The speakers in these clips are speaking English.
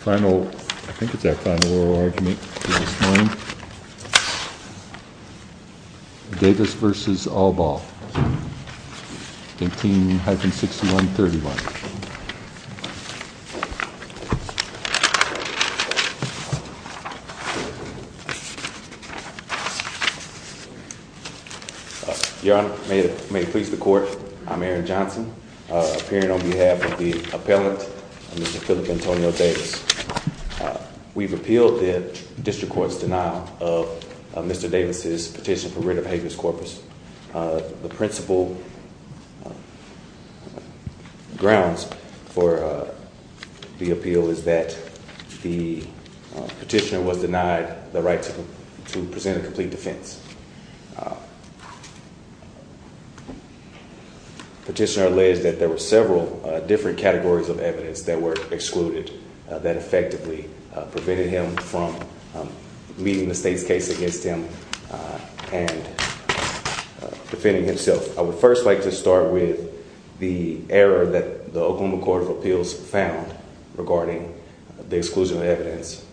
Final, I think it's our final oral argument for this morning, Davis v. Allbaugh, 18-6131. Your Honor, may it please the court, I'm Aaron Johnson, appearing on behalf of the appellant, Mr. Phillip Antonio Davis. We've appealed the district court's denial of Mr. Davis's petition for writ of habeas corpus. The principal grounds for the appeal is that the petitioner was denied the right to present a complete defense. The petitioner alleged that there were several different categories of evidence that were excluded that effectively prevented him from leading the state's case against him and defending himself. I would first like to start with the error that the Oklahoma Court of Appeals found regarding the exclusion of evidence,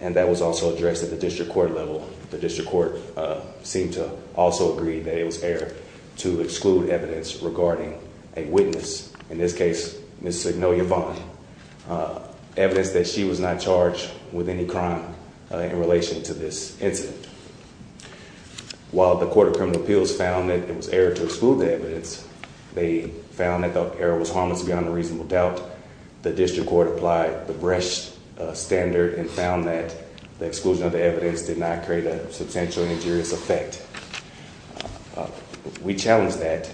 and that was also addressed at the district court level. The district court seemed to also agree that it was error to exclude evidence regarding a witness, in this case, Ms. Signolia Vaughn, evidence that she was not charged with any crime in relation to this incident. While the court of criminal appeals found that it was error to exclude the evidence, they found that the error was harmless beyond a reasonable doubt. The district court applied the Brecht standard and found that the exclusion of the evidence did not create a substantial injurious effect. We challenge that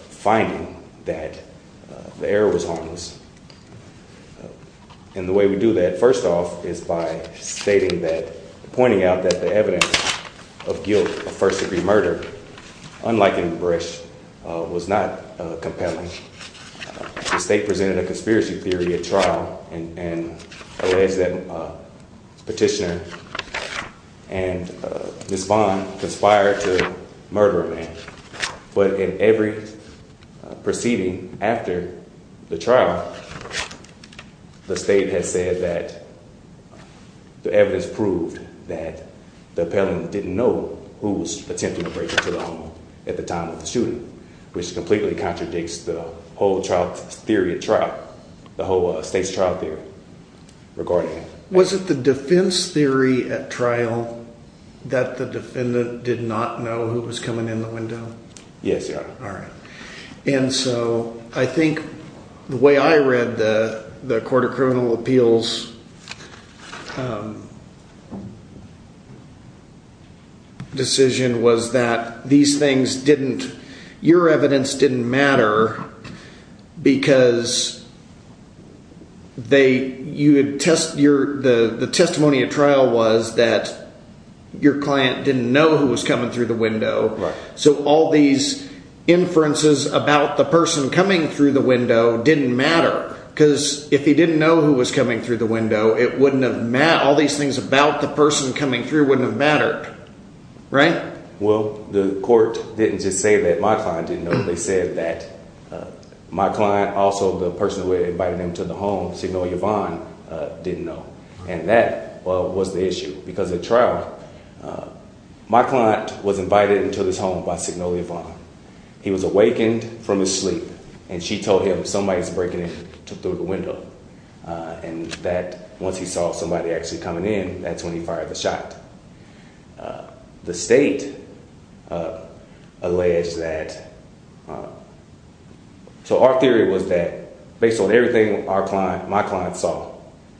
finding that the error was harmless, and the way we do that, first off, is by stating that, pointing out that the evidence of guilt of first degree murder, unlike in Brecht, was not compelling. The state presented a conspiracy theory at trial and alleged that petitioner and Ms. Vaughn conspired to murder a man, but in every proceeding after the trial, the state has said that the evidence proved that the appellant didn't know who was attempting to break into the home at the time of the shooting, which completely contradicts the whole state's trial theory regarding it. Was it the defense theory at trial that the defendant did not know who was coming in the window? Yes, Your Honor. I think the way I read the court of criminal appeals decision was that your evidence didn't matter because the testimony at trial was that your client didn't know who was coming through the window. So all these inferences about the person coming through the window didn't matter because if he didn't know who was coming through the window, all these things about the person coming through wouldn't have mattered, right? Well, the court didn't just say that my client didn't know. They said that my client, also the person who had invited him to the home, Signoria Vaughn, didn't know, and that was the issue because at trial, my client was invited into this home by Signoria Vaughn. He was awakened from his sleep, and she told him somebody was breaking in through the window and that once he saw somebody actually coming in, that's when he fired the shot. The state alleged that – so our theory was that based on everything my client saw,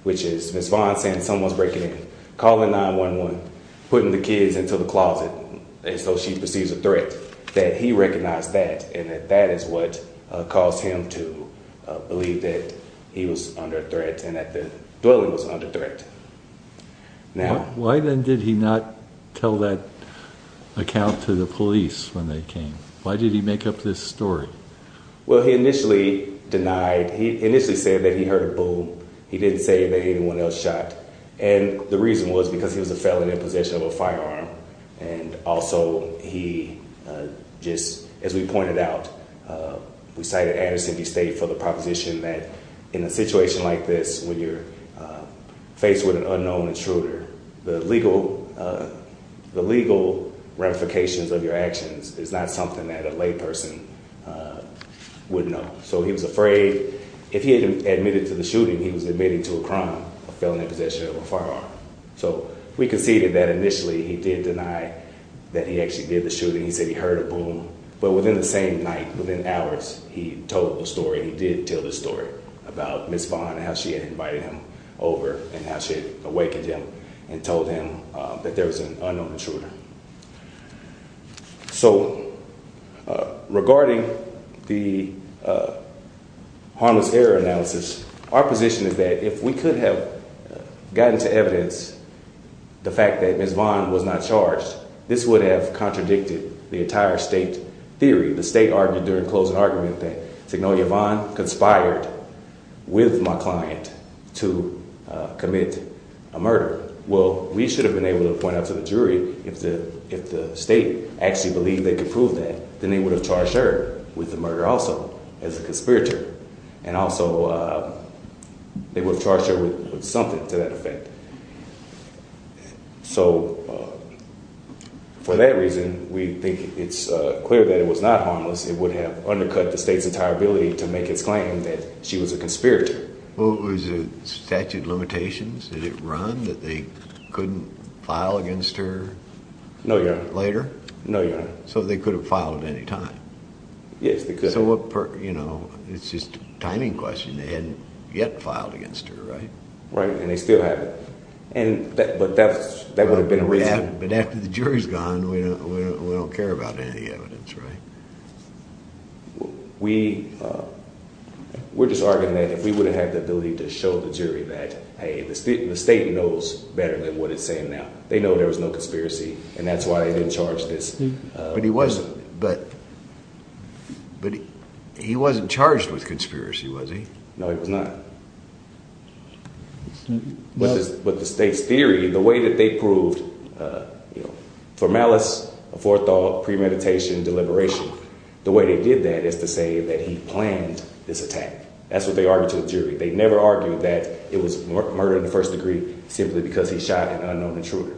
which is Ms. Vaughn saying someone's breaking in, calling 911, putting the kids into the closet as though she perceives a threat, that he recognized that and that that is what caused him to believe that he was under threat and that the dwelling was under threat. Why then did he not tell that account to the police when they came? Why did he make up this story? Well, he initially denied – he initially said that he heard a boom. He didn't say that anyone else shot, and the reason was because he was a felon in possession of a firearm. And also he just – as we pointed out, we cited Addison v. State for the proposition that in a situation like this when you're faced with an unknown intruder, the legal ramifications of your actions is not something that a layperson would know. So he was afraid – if he had admitted to the shooting, he was admitting to a crime, a felon in possession of a firearm. So we conceded that initially he did deny that he actually did the shooting. He said he heard a boom. But within the same night, within hours, he told the story. He did tell the story about Ms. Vaughn and how she had invited him over and how she had awakened him and told him that there was an unknown intruder. So regarding the harmless error analysis, our position is that if we could have gotten to evidence the fact that Ms. Vaughn was not charged, this would have contradicted the entire state theory. The state argued during the closing argument that Signalia Vaughn conspired with my client to commit a murder. Well, we should have been able to point out to the jury if the state actually believed they could prove that, then they would have charged her with the murder also as a conspirator. And also they would have charged her with something to that effect. So for that reason, we think it's clear that it was not harmless. It would have undercut the state's entire ability to make its claim that she was a conspirator. Was it statute of limitations? Did it run that they couldn't file against her later? No, Your Honor. So they could have filed at any time? Yes, they could have. It's just a timing question. They hadn't yet filed against her, right? Right, and they still haven't. But that would have been a reason. But after the jury's gone, we don't care about any of the evidence, right? We're just arguing that if we would have had the ability to show the jury that, hey, the state knows better than what it's saying now. They know there was no conspiracy and that's why they didn't charge this. But he wasn't charged with conspiracy, was he? No, he was not. But the state's theory, the way that they proved for malice, forethought, premeditation, deliberation, the way they did that is to say that he planned this attack. That's what they argued to the jury. They never argued that it was murder in the first degree simply because he shot an unknown intruder.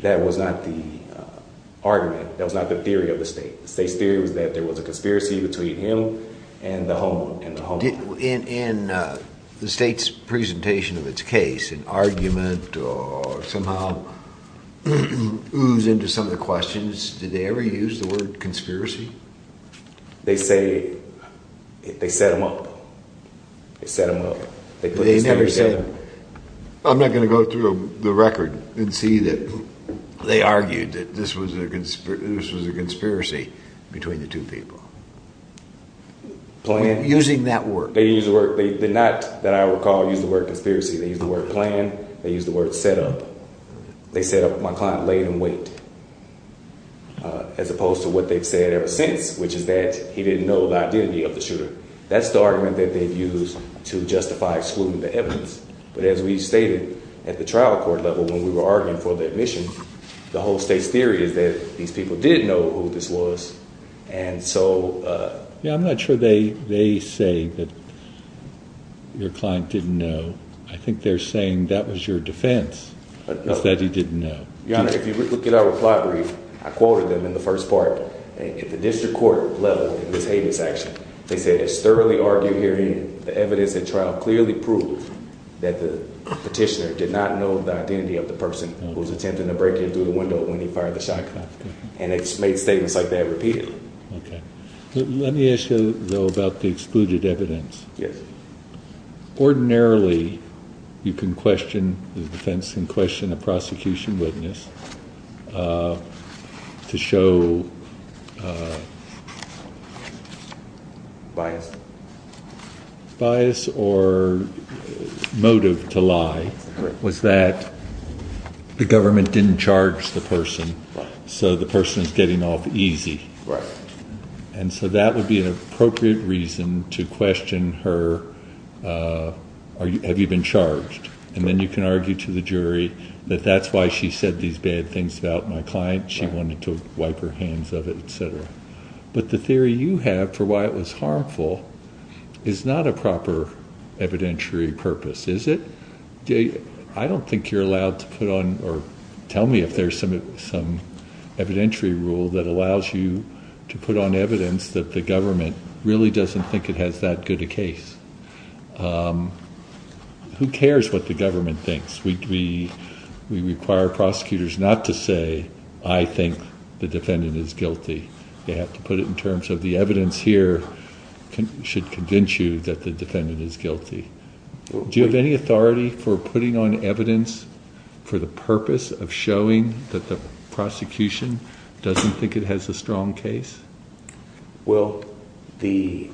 That was not the argument. That was not the theory of the state. The state's theory was that there was a conspiracy between him and the homeowner. In the state's presentation of its case, an argument or somehow ooze into some of the questions, did they ever use the word conspiracy? They say they set him up. They set him up. I'm not going to go through the record and see that they argued that this was a conspiracy between the two people. Using that word? They did not, that I recall, use the word conspiracy. They used the word plan. They used the word set up. They said my client laid in wait as opposed to what they've said ever since, which is that he didn't know the identity of the shooter. That's the argument that they've used to justify excluding the evidence. But as we stated at the trial court level when we were arguing for the admission, the whole state's theory is that these people did know who this was. I'm not sure they say that your client didn't know. I think they're saying that was your defense, that he didn't know. Your Honor, if you look at our reply brief, I quoted them in the first part. At the district court level in this habeas action, they said it's thoroughly argued herein the evidence at trial clearly proved that the petitioner did not know the identity of the person who was attempting to break in through the window when he fired the shotgun. And they just made statements like that repeatedly. Let me ask you, though, about the excluded evidence. Ordinarily, you can question, the defense can question a prosecution witness to show bias or motive to lie was that the government didn't charge the person. So the person is getting off easy. Right. And so that would be an appropriate reason to question her. Have you been charged? And then you can argue to the jury that that's why she said these bad things about my client. She wanted to wipe her hands of it, etc. But the theory you have for why it was harmful is not a proper evidentiary purpose. I don't think you're allowed to put on or tell me if there's some some evidentiary rule that allows you to put on evidence that the government really doesn't think it has that good a case. Who cares what the government thinks? We do. We require prosecutors not to say, I think the defendant is guilty. You have to put it in terms of the evidence here should convince you that the defendant is guilty. Do you have any authority for putting on evidence for the purpose of showing that the prosecution doesn't think it has a strong case? Well, the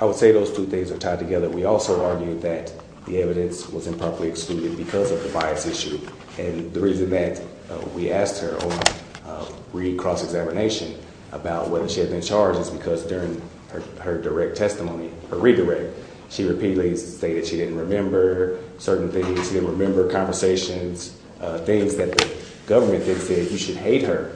I would say those two things are tied together. We also argued that the evidence was improperly excluded because of the bias issue. And the reason that we asked her to read cross-examination about whether she had been charged is because during her direct testimony, her redirect, she repeatedly stated she didn't remember certain things. She didn't remember conversations, things that the government didn't say. You should hate her.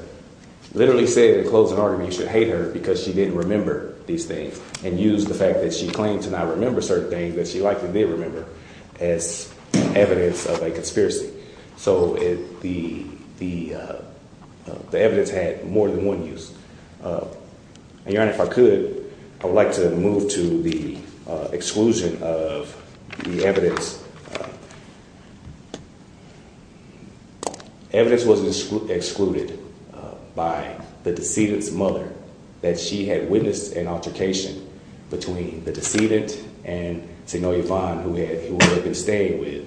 Literally say the closing argument should hate her because she didn't remember these things and use the fact that she claimed to not remember certain things that she likely did remember as evidence of a conspiracy. So the the the evidence had more than one use. And if I could, I would like to move to the exclusion of the evidence. Evidence was excluded by the decedent's mother that she had witnessed an altercation between the decedent and Sanoia Vaughn, who had been staying with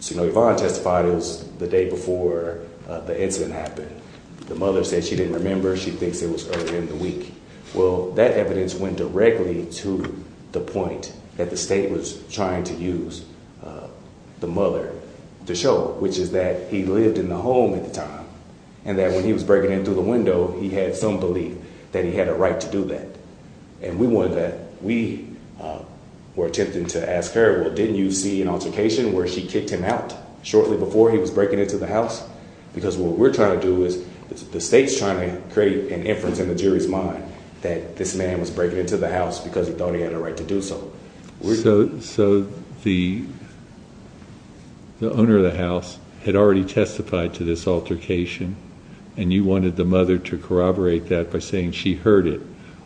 Sanoia Vaughn testified is the day before the incident happened. The mother said she didn't remember. She thinks it was early in the week. Well, that evidence went directly to the point that the state was trying to use the mother to show, which is that he lived in the home at the time and that when he was breaking in through the window, he had some belief that he had a right to do that. And we wanted that we were attempting to ask her, well, didn't you see an altercation where she kicked him out shortly before he was breaking into the house? Because what we're trying to do is the state's trying to create an inference in the jury's mind that this man was breaking into the house because he thought he had a right to do so. So so the. The owner of the house had already testified to this altercation, and you wanted the mother to corroborate that by saying she heard it,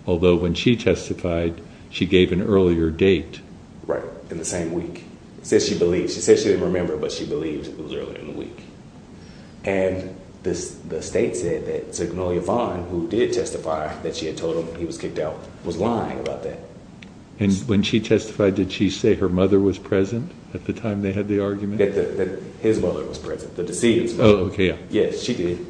although when she testified, she gave an earlier date, right? In the same week, says she believes she says she didn't remember, but she believes it was earlier in the week. And this the state said that Sanoia Vaughn, who did testify that she had told him he was kicked out, was lying about that. And when she testified, did she say her mother was present at the time? They had the argument that his mother was present. The deceased. OK. Yes, she did.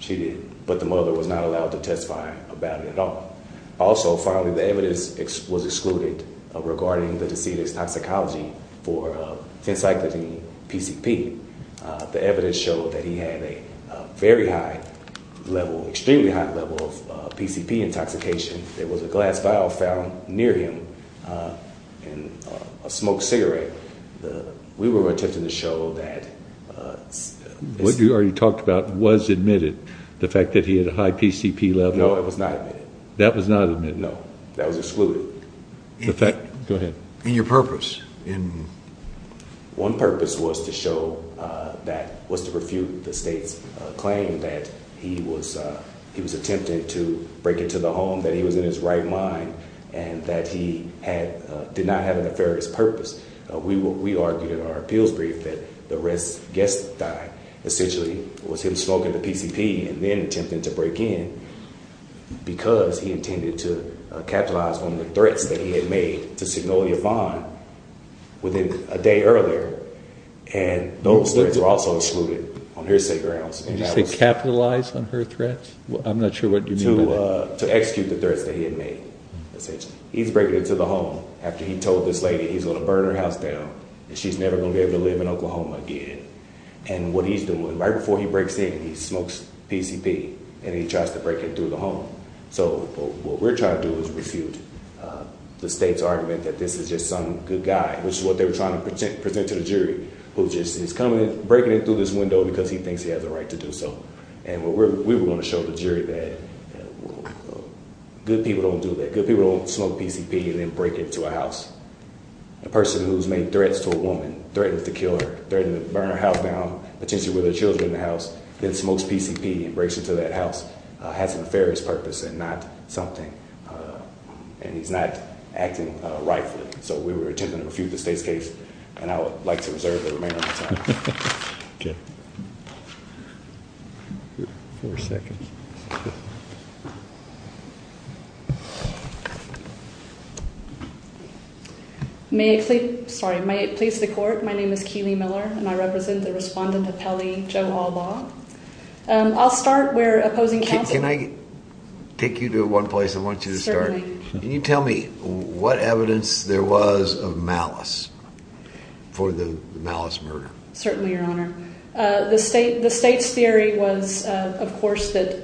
She did. But the mother was not allowed to testify about it at all. Also, finally, the evidence was excluded of regarding the decedent's toxicology for consecutive PCP. The evidence showed that he had a very high level, extremely high level of PCP intoxication. There was a glass vial found near him and a smoked cigarette. We were attempting to show that. What you already talked about was admitted. The fact that he had a high PCP level. No, it was not. That was not admitted. No, that was excluded. Go ahead. And your purpose in. One purpose was to show that was to refute the state's claim that he was he was attempting to break into the home, that he was in his right mind and that he had did not have a nefarious purpose. We argued in our appeals brief that the rest guess that essentially was him smoking the PCP and then attempting to break in because he intended to capitalize on the threats that he had made to signal your bond within a day earlier. And those things are also excluded on hearsay grounds. Capitalize on her threats. I'm not sure what you do to execute the threats that he had made. He's breaking into the home after he told this lady he's going to burn her house down and she's never going to ever live in Oklahoma again. And what he's doing right before he breaks in, he smokes PCP and he tries to break into the home. So what we're trying to do is refute the state's argument that this is just some good guy, which is what they were trying to present to the jury, who just is coming in, breaking in through this window because he thinks he has a right to do so. And we were going to show the jury that good people don't do that. Good people don't smoke PCP and then break into a house. A person who's made threats to a woman, threatened to kill her, threatened to burn her house down, potentially with her children in the house, then smokes PCP and breaks into that house has a nefarious purpose and not something. And he's not acting rightfully. So we were attempting to refute the state's case. And I would like to reserve the remainder of my time. Four seconds. May it please the court. My name is Keely Miller and I represent the respondent of Pelley, Joe Albaugh. I'll start where opposing counsel. Can I take you to one place? I want you to start. Can you tell me what evidence there was of malice for the malice murder? Certainly, your honor. The state, the state's theory was, of course, that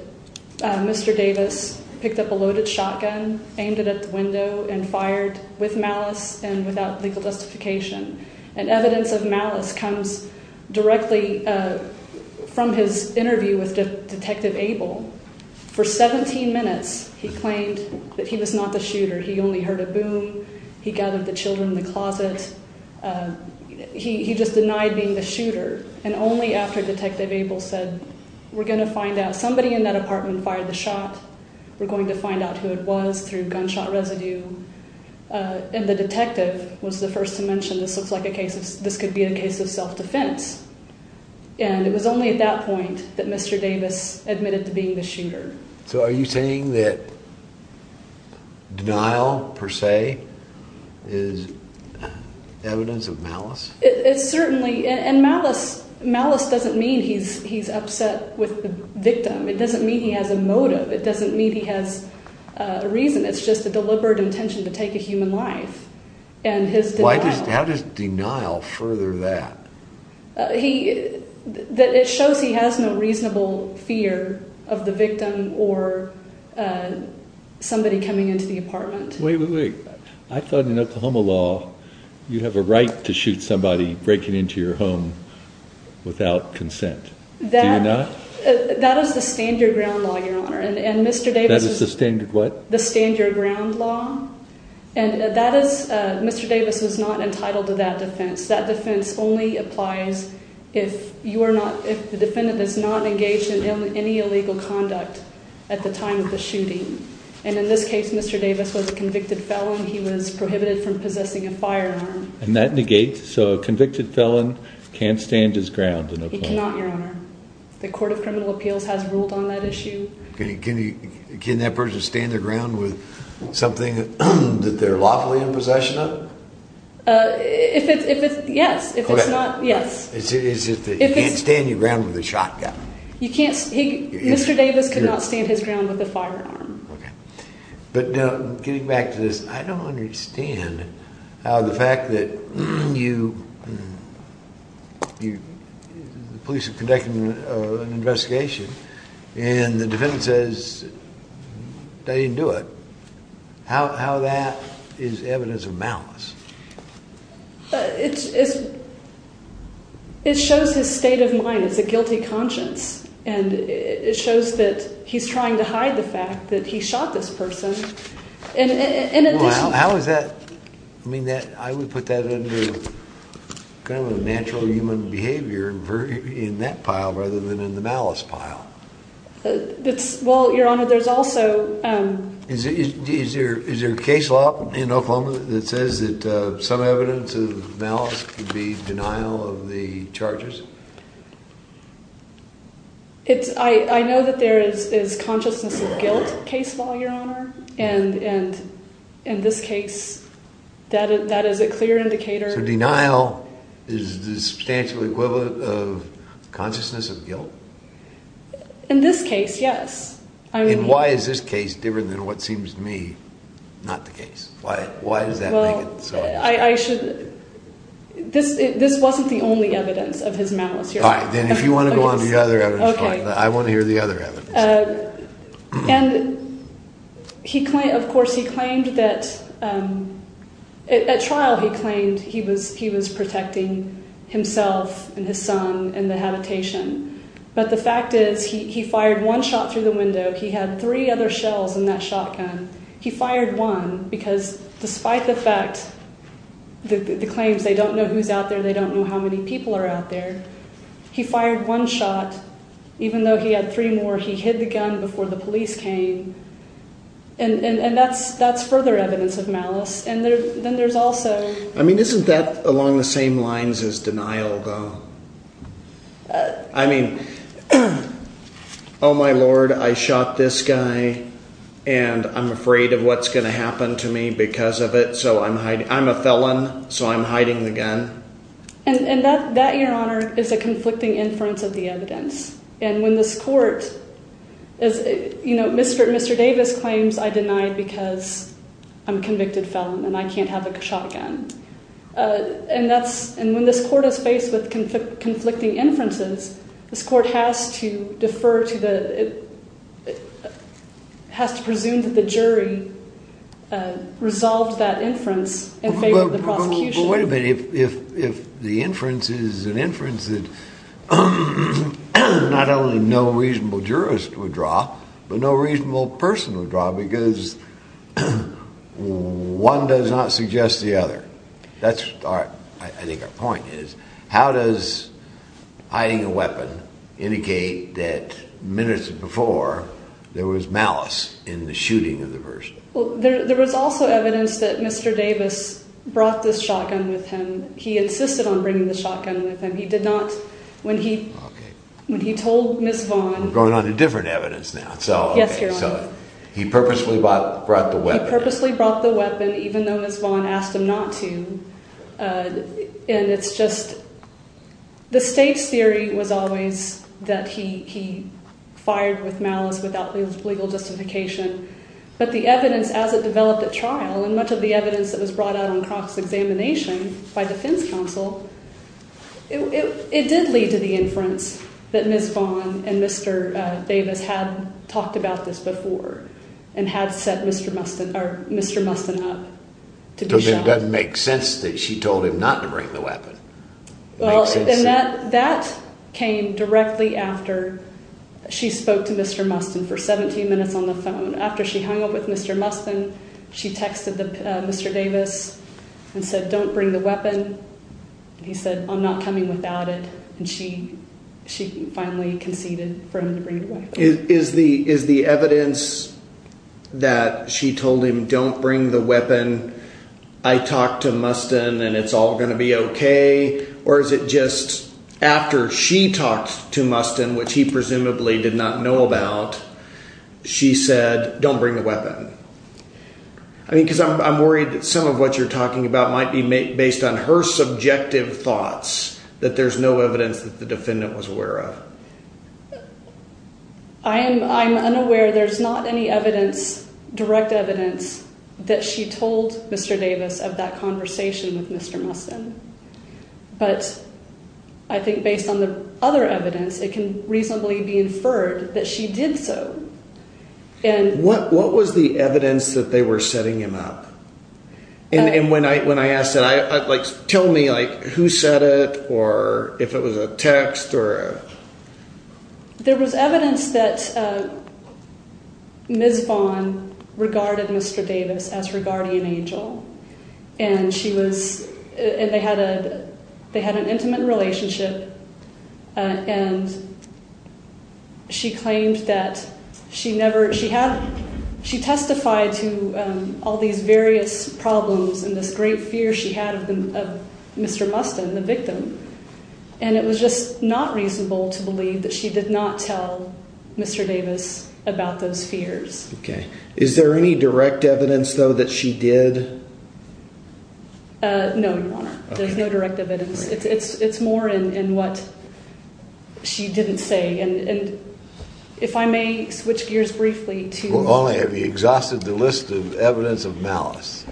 Mr. Davis picked up a loaded shotgun, aimed it at the window and fired with malice and without legal justification. And evidence of malice comes directly from his interview with Detective Abel. For 17 minutes, he claimed that he was not the shooter. He only heard a boom. He gathered the children in the closet. He just denied being the shooter. And only after Detective Abel said, we're going to find out somebody in that apartment fired the shot. We're going to find out who it was through gunshot residue. And the detective was the first to mention this looks like a case of this could be a case of self-defense. And it was only at that point that Mr. Davis admitted to being the shooter. So are you saying that denial, per se, is evidence of malice? It's certainly, and malice doesn't mean he's upset with the victim. It doesn't mean he has a motive. It doesn't mean he has a reason. It's just a deliberate intention to take a human life. And his denial. How does denial further that? It shows he has no reasonable fear of the victim or somebody coming into the apartment. Wait, wait, wait. I thought in Oklahoma law, you have a right to shoot somebody breaking into your home without consent. Do you not? That is the stand your ground law, Your Honor. That is the stand your what? The stand your ground law. And that is, Mr. Davis was not entitled to that defense. That defense only applies if the defendant is not engaged in any illegal conduct at the time of the shooting. And in this case, Mr. Davis was a convicted felon. He was prohibited from possessing a firearm. And that negates, so a convicted felon can't stand his ground in Oklahoma. He cannot, Your Honor. The Court of Criminal Appeals has ruled on that issue. Can that person stand their ground with something that they're lawfully in possession of? If it's, yes. Correct. If it's not, yes. It's just that you can't stand your ground with a shotgun. You can't, Mr. Davis could not stand his ground with a firearm. Okay. But getting back to this, I don't understand how the fact that you, the police are conducting an investigation, and the defendant says they didn't do it, how that is evidence of malice? It shows his state of mind. It's a guilty conscience. And it shows that he's trying to hide the fact that he shot this person. How is that, I mean, I would put that under kind of a natural human behavior in that pile rather than in the malice pile. Well, Your Honor, there's also... Is there a case law in Oklahoma that says that some evidence of malice could be denial of the charges? I know that there is consciousness of guilt case law, Your Honor. And in this case, that is a clear indicator. So denial is the substantial equivalent of consciousness of guilt? In this case, yes. And why is this case different than what seems to me not the case? Why does that make it so? Well, I should... This wasn't the only evidence of his malice, Your Honor. All right, then if you want to go on to the other evidence, fine. I want to hear the other evidence. And, of course, he claimed that... At trial, he claimed he was protecting himself and his son in the habitation. But the fact is he fired one shot through the window. He had three other shells in that shotgun. He fired one because despite the fact, the claims, they don't know who's out there, they don't know how many people are out there. He fired one shot. Even though he had three more, he hid the gun before the police came. And that's further evidence of malice. And then there's also... I mean, isn't that along the same lines as denial, though? I mean... Oh, my Lord, I shot this guy, and I'm afraid of what's going to happen to me because of it, so I'm hiding... I'm a felon, so I'm hiding the gun. And that, Your Honor, is a conflicting inference of the evidence. And when this court... You know, Mr. Davis claims, I denied because I'm a convicted felon and I can't have a shotgun. And that's... And when this court is faced with conflicting inferences, this court has to defer to the... It has to presume that the jury resolved that inference in favor of the prosecution. But wait a minute. If the inference is an inference that not only no reasonable jurist would draw, but no reasonable person would draw, because one does not suggest the other, that's, I think, our point is... How does hiding a weapon indicate that minutes before there was malice in the shooting of the person? Well, there was also evidence that Mr. Davis brought this shotgun with him. He insisted on bringing the shotgun with him. He did not... When he told Ms. Vaughn... We're going on to different evidence now, so... Yes, Your Honor. He purposely brought the weapon. He purposely brought the weapon, even though Ms. Vaughn asked him not to. And it's just... The state's theory was always that he fired with malice without legal justification. But the evidence, as it developed at trial, and much of the evidence that was brought out on cross-examination by defense counsel, it did lead to the inference that Ms. Vaughn and Mr. Davis had talked about this before and had set Mr. Mustin up to be shot. But it doesn't make sense that she told him not to bring the weapon. Well, and that came directly after she spoke to Mr. Mustin for 17 minutes on the phone. After she hung up with Mr. Mustin, she texted Mr. Davis and said, Don't bring the weapon. He said, I'm not coming without it. And she finally conceded for him to bring the weapon. Is the evidence that she told him, don't bring the weapon, I talked to Mustin and it's all going to be okay, or is it just after she talked to Mustin, which he presumably did not know about, she said, don't bring the weapon? I mean, because I'm worried that some of what you're talking about might be based on her subjective thoughts, that there's no evidence that the defendant was aware of. I'm unaware there's not any evidence, direct evidence, that she told Mr. Davis of that conversation with Mr. Mustin. But I think based on the other evidence, it can reasonably be inferred that she did so. What was the evidence that they were setting him up? And when I asked that, tell me, who said it, or if it was a text? There was evidence that Ms. Vaughn regarded Mr. Davis as her guardian angel. And they had an intimate relationship, and she testified to all these various problems and this great fear she had of Mr. Mustin, the victim. And it was just not reasonable to believe that she did not tell Mr. Davis about those fears. Okay. Is there any direct evidence, though, that she did? No, Your Honor, there's no direct evidence. It's more in what she didn't say. And if I may switch gears briefly to— Well, only have you exhausted the list of evidence of malice.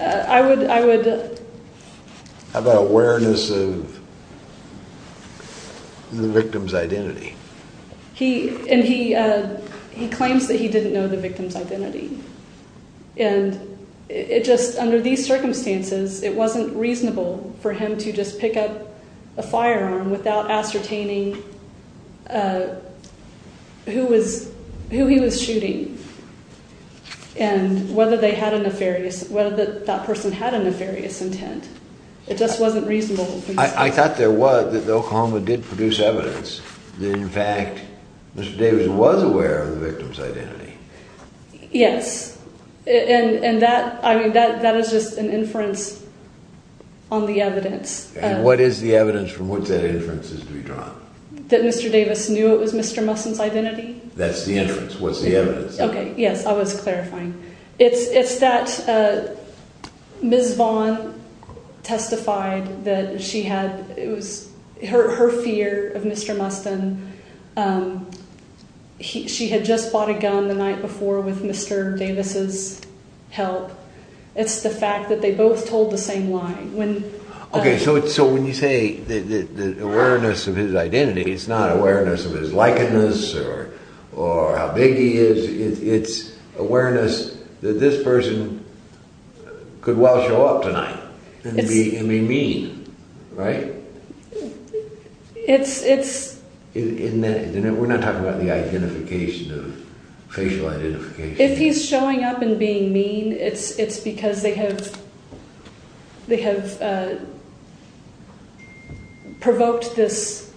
I would— How about awareness of the victim's identity? And he claims that he didn't know the victim's identity. And it just—under these circumstances, it wasn't reasonable for him to just pick up a firearm without ascertaining who he was shooting and whether they had a nefarious—whether that person had a nefarious intent. It just wasn't reasonable. I thought there was—that Oklahoma did produce evidence that, in fact, Mr. Davis was aware of the victim's identity. Yes. And that—I mean, that is just an inference on the evidence. And what is the evidence from which that inference is to be drawn? That Mr. Davis knew it was Mr. Mustin's identity? That's the inference. What's the evidence? Okay. Yes, I was clarifying. It's that Ms. Vaughn testified that she had—it was her fear of Mr. Mustin. She had just bought a gun the night before with Mr. Davis's help. It's the fact that they both told the same lie. Okay, so when you say the awareness of his identity, it's not awareness of his likeness or how big he is. It's awareness that this person could well show up tonight and be mean, right? It's— We're not talking about the identification, the facial identification. If he's showing up and being mean, it's because they have provoked this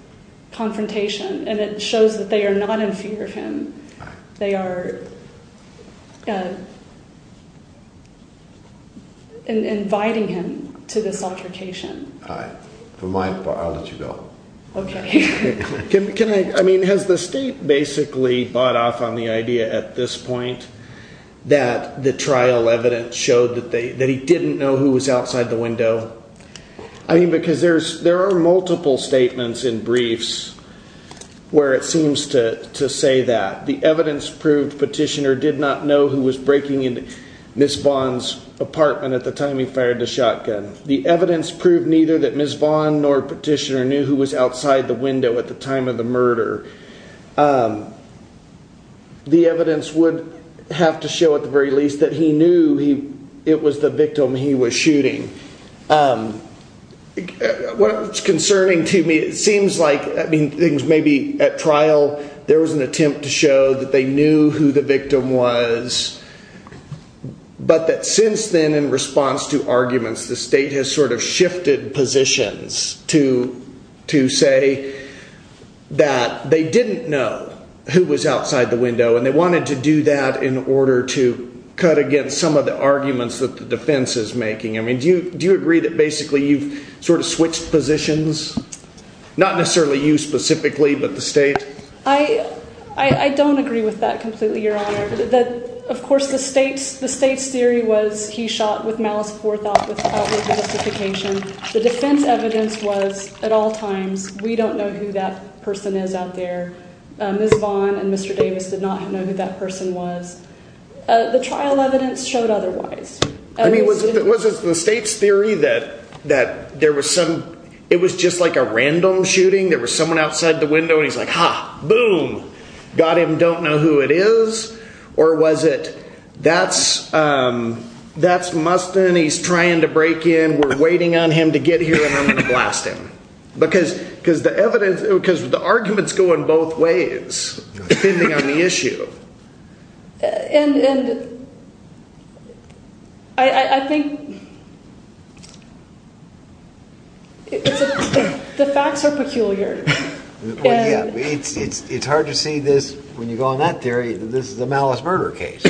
confrontation, and it shows that they are not in fear of him. They are inviting him to this altercation. All right. For my part, I'll let you go. Okay. Can I—I mean, has the state basically bought off on the idea at this point that the trial evidence showed that he didn't know who was outside the window? I mean, because there are multiple statements in briefs where it seems to say that. The evidence proved Petitioner did not know who was breaking into Ms. Vaughn's apartment at the time he fired the shotgun. The evidence proved neither that Ms. Vaughn nor Petitioner knew who was outside the window at the time of the murder. The evidence would have to show, at the very least, that he knew it was the victim he was shooting. What's concerning to me, it seems like—I mean, things may be—at trial, there was an attempt to show that they knew who the victim was, but that since then, in response to arguments, the state has sort of shifted positions to say that they didn't know who was outside the window, and they wanted to do that in order to cut against some of the arguments that the defense is making. I mean, do you agree that basically you've sort of switched positions? Not necessarily you specifically, but the state? I don't agree with that completely, Your Honor. Of course, the state's theory was he shot with malice for thought without justification. The defense evidence was, at all times, we don't know who that person is out there. Ms. Vaughn and Mr. Davis did not know who that person was. The trial evidence showed otherwise. I mean, was it the state's theory that there was some—it was just like a random shooting? There was someone outside the window, and he's like, ha, boom, got him, don't know who it is? Or was it that's Mustin, he's trying to break in, we're waiting on him to get here, and I'm going to blast him? Because the arguments go in both ways, depending on the issue. And I think the facts are peculiar. It's hard to see this when you go on that theory that this is a malice murder case.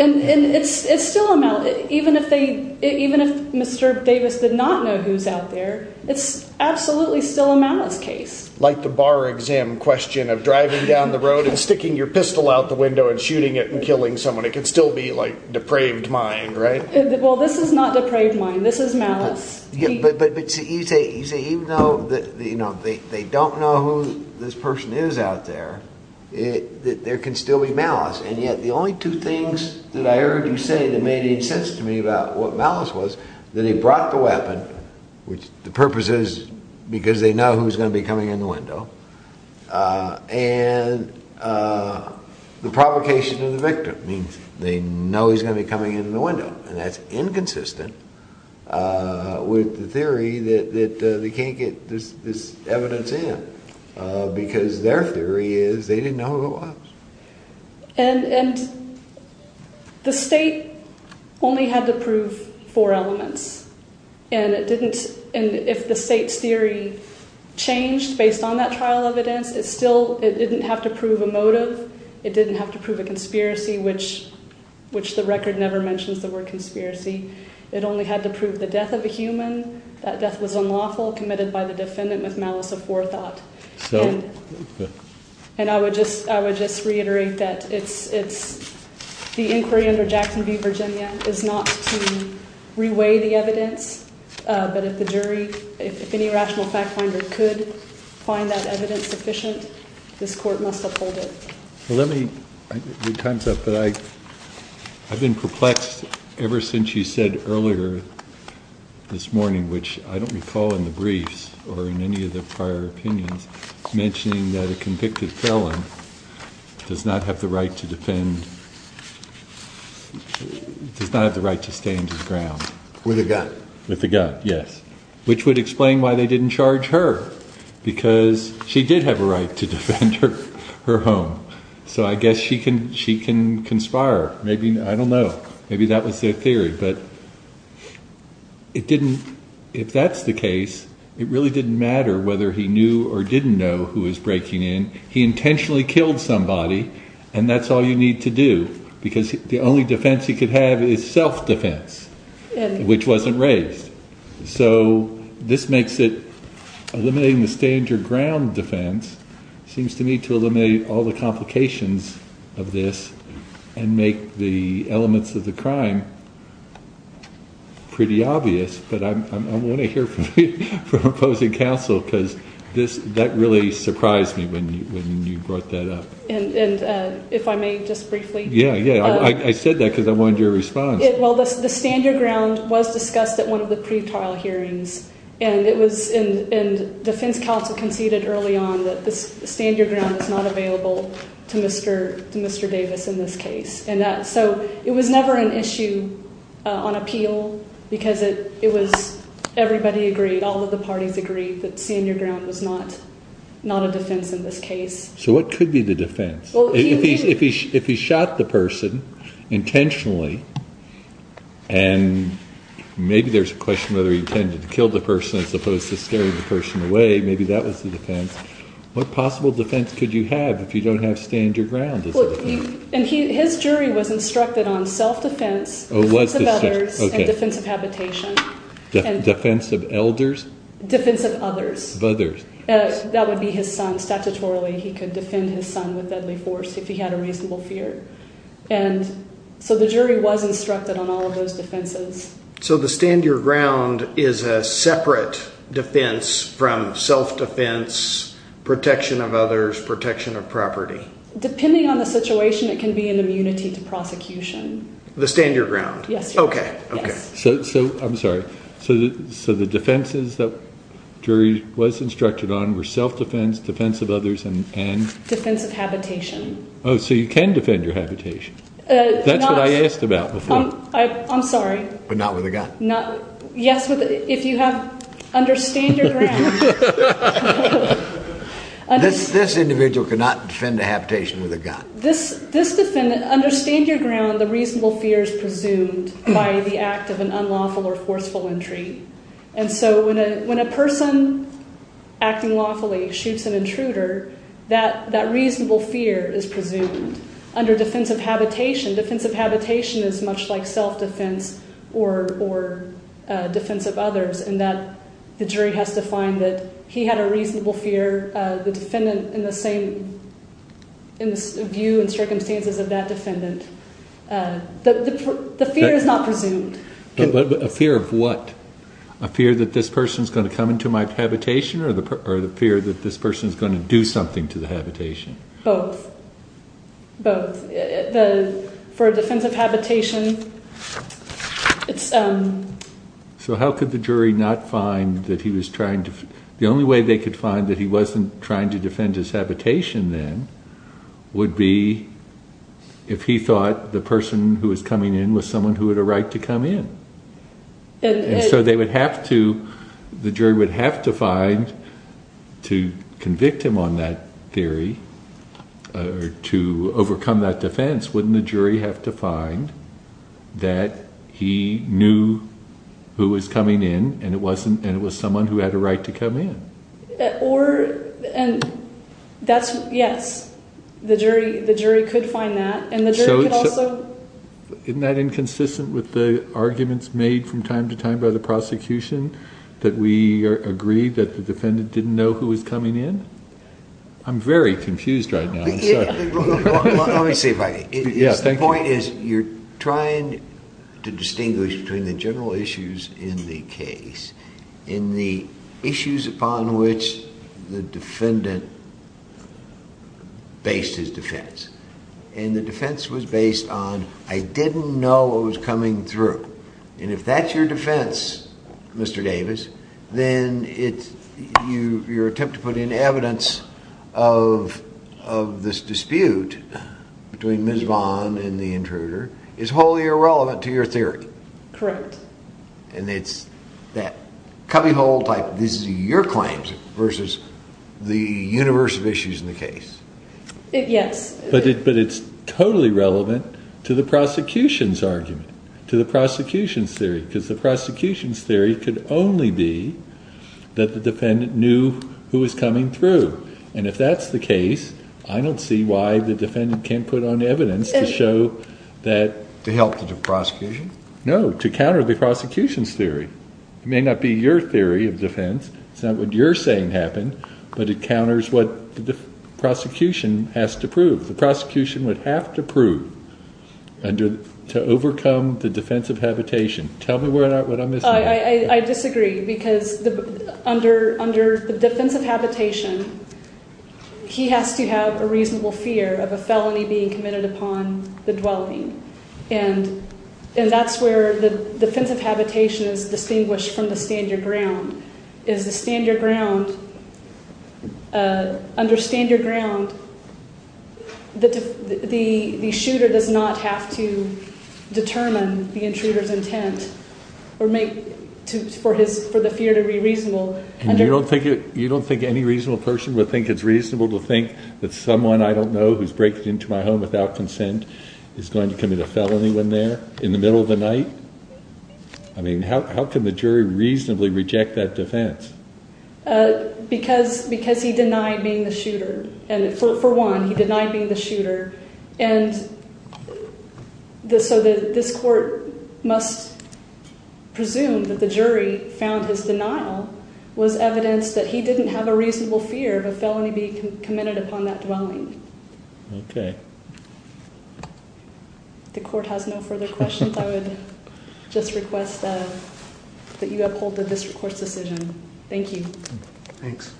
And it's still a malice—even if Mr. Davis did not know who's out there, it's absolutely still a malice case. Like the bar exam question of driving down the road and sticking your pistol out the window and shooting it and killing someone. It can still be, like, depraved mind, right? Well, this is not depraved mind. This is malice. But you say even though they don't know who this person is out there, there can still be malice. And yet the only two things that I heard you say that made any sense to me about what malice was, that he brought the weapon, which the purpose is because they know who's going to be coming in the window, and the provocation of the victim means they know he's going to be coming in the window. And that's inconsistent with the theory that they can't get this evidence in. Because their theory is they didn't know who it was. And the state only had to prove four elements. And it didn't—if the state's theory changed based on that trial evidence, it still—it didn't have to prove a motive. It didn't have to prove a conspiracy, which the record never mentions the word conspiracy. It only had to prove the death of a human. That death was unlawful, committed by the defendant with malice of forethought. And I would just reiterate that it's—the inquiry under Jackson v. Virginia is not to reweigh the evidence, but if the jury—if any rational fact finder could find that evidence sufficient, this court must uphold it. Let me—your time's up, but I've been perplexed ever since you said earlier this morning, which I don't recall in the briefs or in any of the prior opinions, mentioning that a convicted felon does not have the right to defend—does not have the right to stand his ground. With a gun. With a gun, yes. Which would explain why they didn't charge her, because she did have a right to defend her home. So I guess she can conspire. Maybe—I don't know. Maybe that was their theory. But it didn't—if that's the case, it really didn't matter whether he knew or didn't know who was breaking in. He intentionally killed somebody, and that's all you need to do, because the only defense he could have is self-defense, which wasn't raised. So this makes it—eliminating the stand your ground defense seems to me to eliminate all the complications of this and make the elements of the crime pretty obvious. But I want to hear from you, from opposing counsel, because that really surprised me when you brought that up. And if I may just briefly— Yeah, yeah. I said that because I wanted your response. Well, the stand your ground was discussed at one of the pretrial hearings, and defense counsel conceded early on that the stand your ground was not available to Mr. Davis in this case. So it was never an issue on appeal, because it was—everybody agreed, all of the parties agreed, that stand your ground was not a defense in this case. So what could be the defense? If he shot the person intentionally, and maybe there's a question whether he intended to kill the person as opposed to scaring the person away, maybe that was the defense. What possible defense could you have if you don't have stand your ground as a defense? And his jury was instructed on self-defense, defense of others, and defense of habitation. Defense of elders? Defense of others. Of others. That would be his son. Statutorily, he could defend his son with deadly force if he had a reasonable fear. And so the jury was instructed on all of those defenses. So the stand your ground is a separate defense from self-defense, protection of others, protection of property? Depending on the situation, it can be an immunity to prosecution. The stand your ground? Yes. Okay, okay. I'm sorry. So the defenses that jury was instructed on were self-defense, defense of others, and? Defense of habitation. Oh, so you can defend your habitation. That's what I asked about before. I'm sorry. But not with a gun. Yes, if you have understand your ground. This individual could not defend a habitation with a gun. This defendant, understand your ground, the reasonable fear is presumed by the act of an unlawful or forceful entry. And so when a person acting lawfully shoots an intruder, that reasonable fear is presumed. Under defense of habitation, defense of habitation is much like self-defense or defense of others in that the jury has to find that he had a reasonable fear, the defendant in the same view and circumstances of that defendant. The fear is not presumed. A fear of what? A fear that this person is going to come into my habitation or the fear that this person is going to do something to the habitation? Both. Both. For defense of habitation, it's... So how could the jury not find that he was trying to... The only way they could find that he wasn't trying to defend his habitation then would be if he thought the person who was coming in was someone who had a right to come in. And so they would have to, the jury would have to find to convict him on that theory to overcome that defense. Wouldn't the jury have to find that he knew who was coming in and it was someone who had a right to come in? Or, and that's, yes, the jury could find that and the jury could also... Isn't that inconsistent with the arguments made from time to time by the prosecution that we agreed that the defendant didn't know who was coming in? I'm very confused right now. Let me see if I... Yes, thank you. The point is you're trying to distinguish between the general issues in the case and the issues upon which the defendant based his defense. And the defense was based on, I didn't know what was coming through. And if that's your defense, Mr. Davis, then your attempt to put in evidence of this dispute between Ms. Vaughn and the intruder is wholly irrelevant to your theory. Correct. And it's that cubbyhole type, this is your claim versus the universe of issues in the case. Yes. But it's totally relevant to the prosecution's argument, to the prosecution's theory, because the prosecution's theory could only be that the defendant knew who was coming through. And if that's the case, I don't see why the defendant can't put on evidence to show that... To help the prosecution? No, to counter the prosecution's theory. It may not be your theory of defense, it's not what you're saying happened, but it counters what the prosecution has to prove. The prosecution would have to prove to overcome the defense of habitation. Tell me what I'm missing. I disagree, because under the defense of habitation, he has to have a reasonable fear of a felony being committed upon the dwelling. And that's where the defense of habitation is distinguished from the stand your ground. Is the stand your ground, under stand your ground, the shooter does not have to determine the intruder's intent for the fear to be reasonable. And you don't think any reasonable person would think it's reasonable to think that someone I don't know who's breaking into my home without consent is going to commit a felony when they're in the middle of the night? I mean, how can the jury reasonably reject that defense? Because he denied being the shooter. For one, he denied being the shooter. And so this court must presume that the jury found his denial was evidence that he didn't have a reasonable fear of a felony being committed upon that dwelling. Okay. The court has no further questions. I would just request that you uphold the district court's decision. Thank you. Thanks.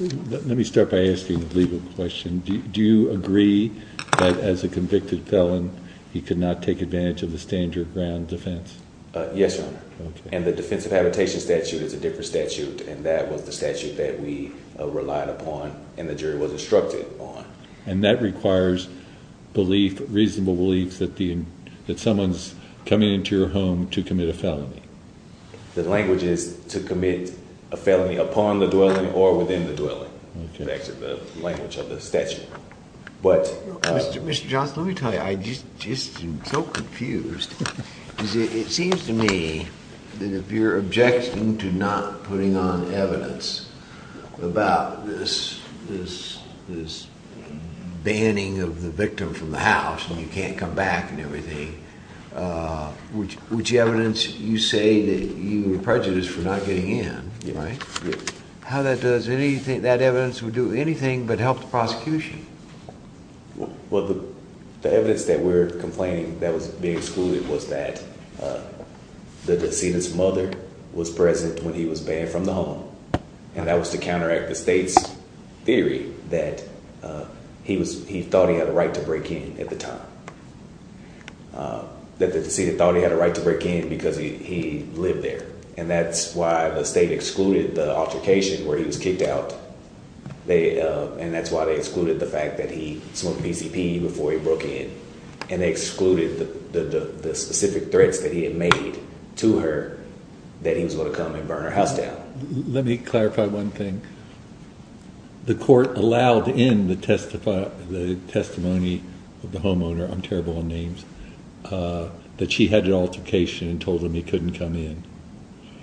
Let me start by asking a legal question. Do you agree that as a convicted felon, he could not take advantage of the stand your ground defense? Yes, Your Honor. And the defensive habitation statute is a different statute, and that was the statute that we relied upon and the jury was instructed on. And that requires belief, reasonable belief, that someone's coming into your home to commit a felony? The language is to commit a felony upon the dwelling or within the dwelling. Okay. That's the language of the statute. Mr. Johnson, let me tell you, I'm just so confused. It seems to me that if you're objecting to not putting on evidence about this banning of the victim from the house and you can't come back and everything, which evidence you say that you were prejudiced for not getting in, right? How does that evidence do anything but help the prosecution? Well, the evidence that we're complaining that was being excluded was that the decedent's mother was present when he was banned from the home. And that was to counteract the state's theory that he thought he had a right to break in at the time, that the decedent thought he had a right to break in because he lived there. And that's why the state excluded the altercation where he was kicked out. And that's why they excluded the fact that he smoked PCP before he broke in. And they excluded the specific threats that he had made to her that he was going to come and burn her house down. Let me clarify one thing. The court allowed in the testimony of the homeowner, I'm terrible on names, that she had an altercation and told him he couldn't come in.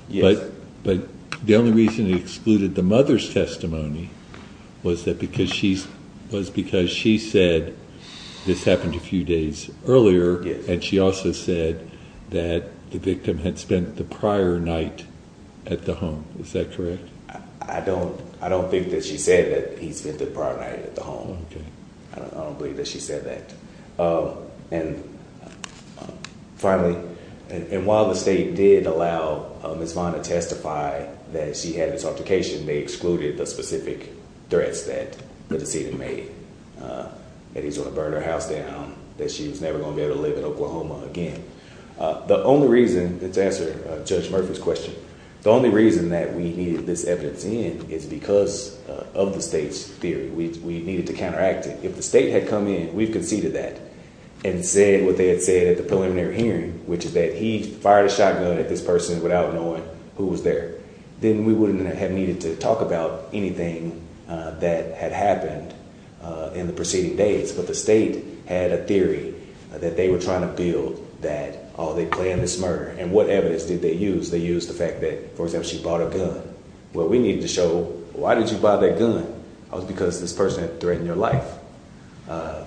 Yes. But the only reason they excluded the mother's testimony was because she said this happened a few days earlier. Yes. And she also said that the victim had spent the prior night at the home. Is that correct? I don't think that she said that he spent the prior night at the home. Okay. I don't believe that she said that. And finally, and while the state did allow Ms. Vaughn to testify that she had this altercation, they excluded the specific threats that the decedent made, that he was going to burn her house down, that she was never going to be able to live in Oklahoma again. The only reason, to answer Judge Murphy's question, the only reason that we needed this evidence in is because of the state's theory. We needed to counteract it. If the state had come in, we've conceded that, and said what they had said at the preliminary hearing, which is that he fired a shotgun at this person without knowing who was there, then we wouldn't have needed to talk about anything that had happened in the preceding days. But the state had a theory that they were trying to build that, oh, they planned this murder. And what evidence did they use? They used the fact that, for example, she bought a gun. Well, we needed to show, why did you buy that gun? It was because this person had threatened your life. So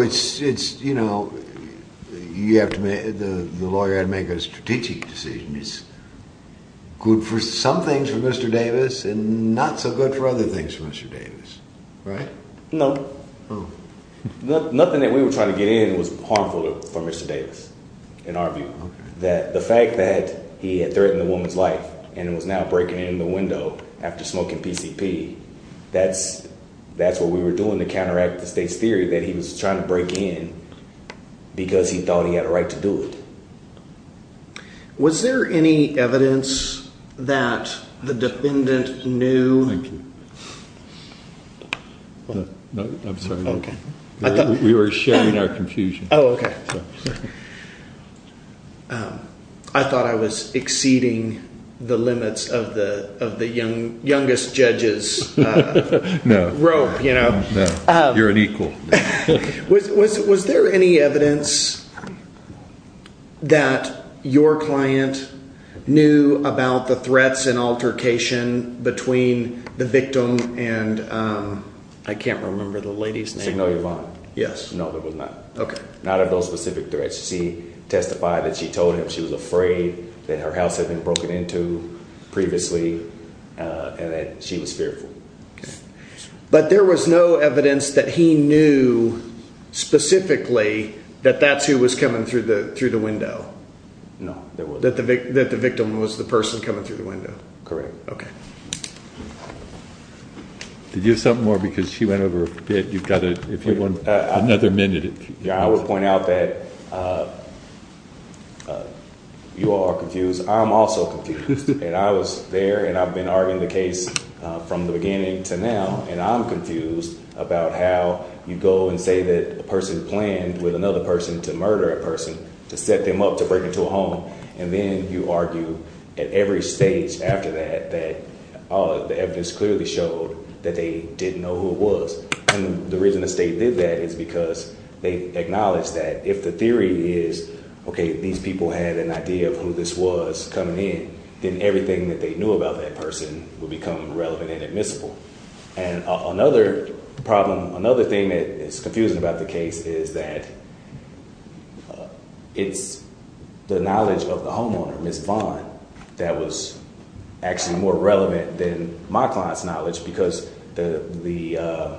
it's, you know, the lawyer had to make a strategic decision. Good for some things for Mr. Davis and not so good for other things for Mr. Davis, right? No. Nothing that we were trying to get in was harmful for Mr. Davis, in our view. The fact that he had threatened the woman's life and was now breaking in the window after smoking PCP, that's what we were doing to counteract the state's theory that he was trying to break in because he thought he had a right to do it. Was there any evidence that the defendant knew? Thank you. No, I'm sorry. Okay. We were sharing our confusion. Oh, okay. I thought I was exceeding the limits of the youngest judge's rope, you know. No, you're an equal. Was there any evidence that your client knew about the threats and altercation between the victim and, I can't remember the lady's name. Signal Yvonne. Yes. No, there was not. Okay. None of those specific threats. She testified that she told him she was afraid that her house had been broken into previously and that she was fearful. But there was no evidence that he knew specifically that that's who was coming through the window. No, there wasn't. That the victim was the person coming through the window. Correct. Okay. Did you have something more? Because she went over a bit. You've got to, if you want another minute. Yeah, I will point out that you all are confused. I'm also confused. And I was there and I've been arguing the case from the beginning to now. And I'm confused about how you go and say that a person planned with another person to murder a person to set them up to break into a home. And then you argue at every stage after that, that the evidence clearly showed that they didn't know who it was. And the reason the state did that is because they acknowledge that if the theory is, okay, these people had an idea of who this was coming in, then everything that they knew about that person would become relevant and admissible. And another problem, another thing that is confusing about the case is that it's the knowledge of the homeowner, Miss Vaughn, that was actually more relevant than my client's knowledge. Because the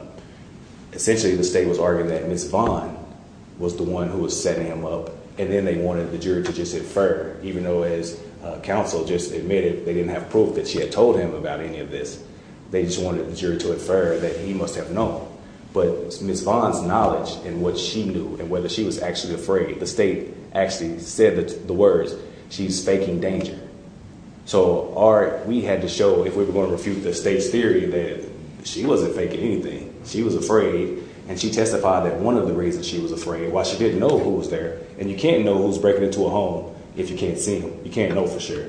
essentially the state was arguing that Miss Vaughn was the one who was setting him up. And then they wanted the jury to just infer, even though as counsel just admitted they didn't have proof that she had told him about any of this. They just wanted the jury to infer that he must have known. But Miss Vaughn's knowledge and what she knew and whether she was actually afraid, the state actually said the words, she's faking danger. So we had to show if we were going to refute the state's theory that she wasn't faking anything. She was afraid. And she testified that one of the reasons she was afraid was she didn't know who was there. And you can't know who's breaking into a home if you can't see him. You can't know for sure.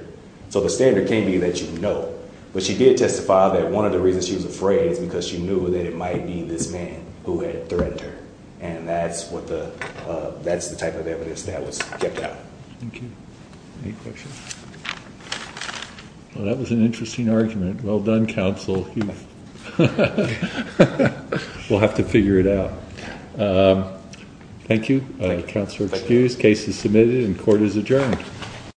So the standard can't be that you know. But she did testify that one of the reasons she was afraid is because she knew that it might be this man who had threatened her. And that's what the that's the type of evidence that was kept out. Thank you. Any questions? Well, that was an interesting argument. Well done, counsel. We'll have to figure it out. Thank you. Counselor excused. Case is submitted and court is adjourned.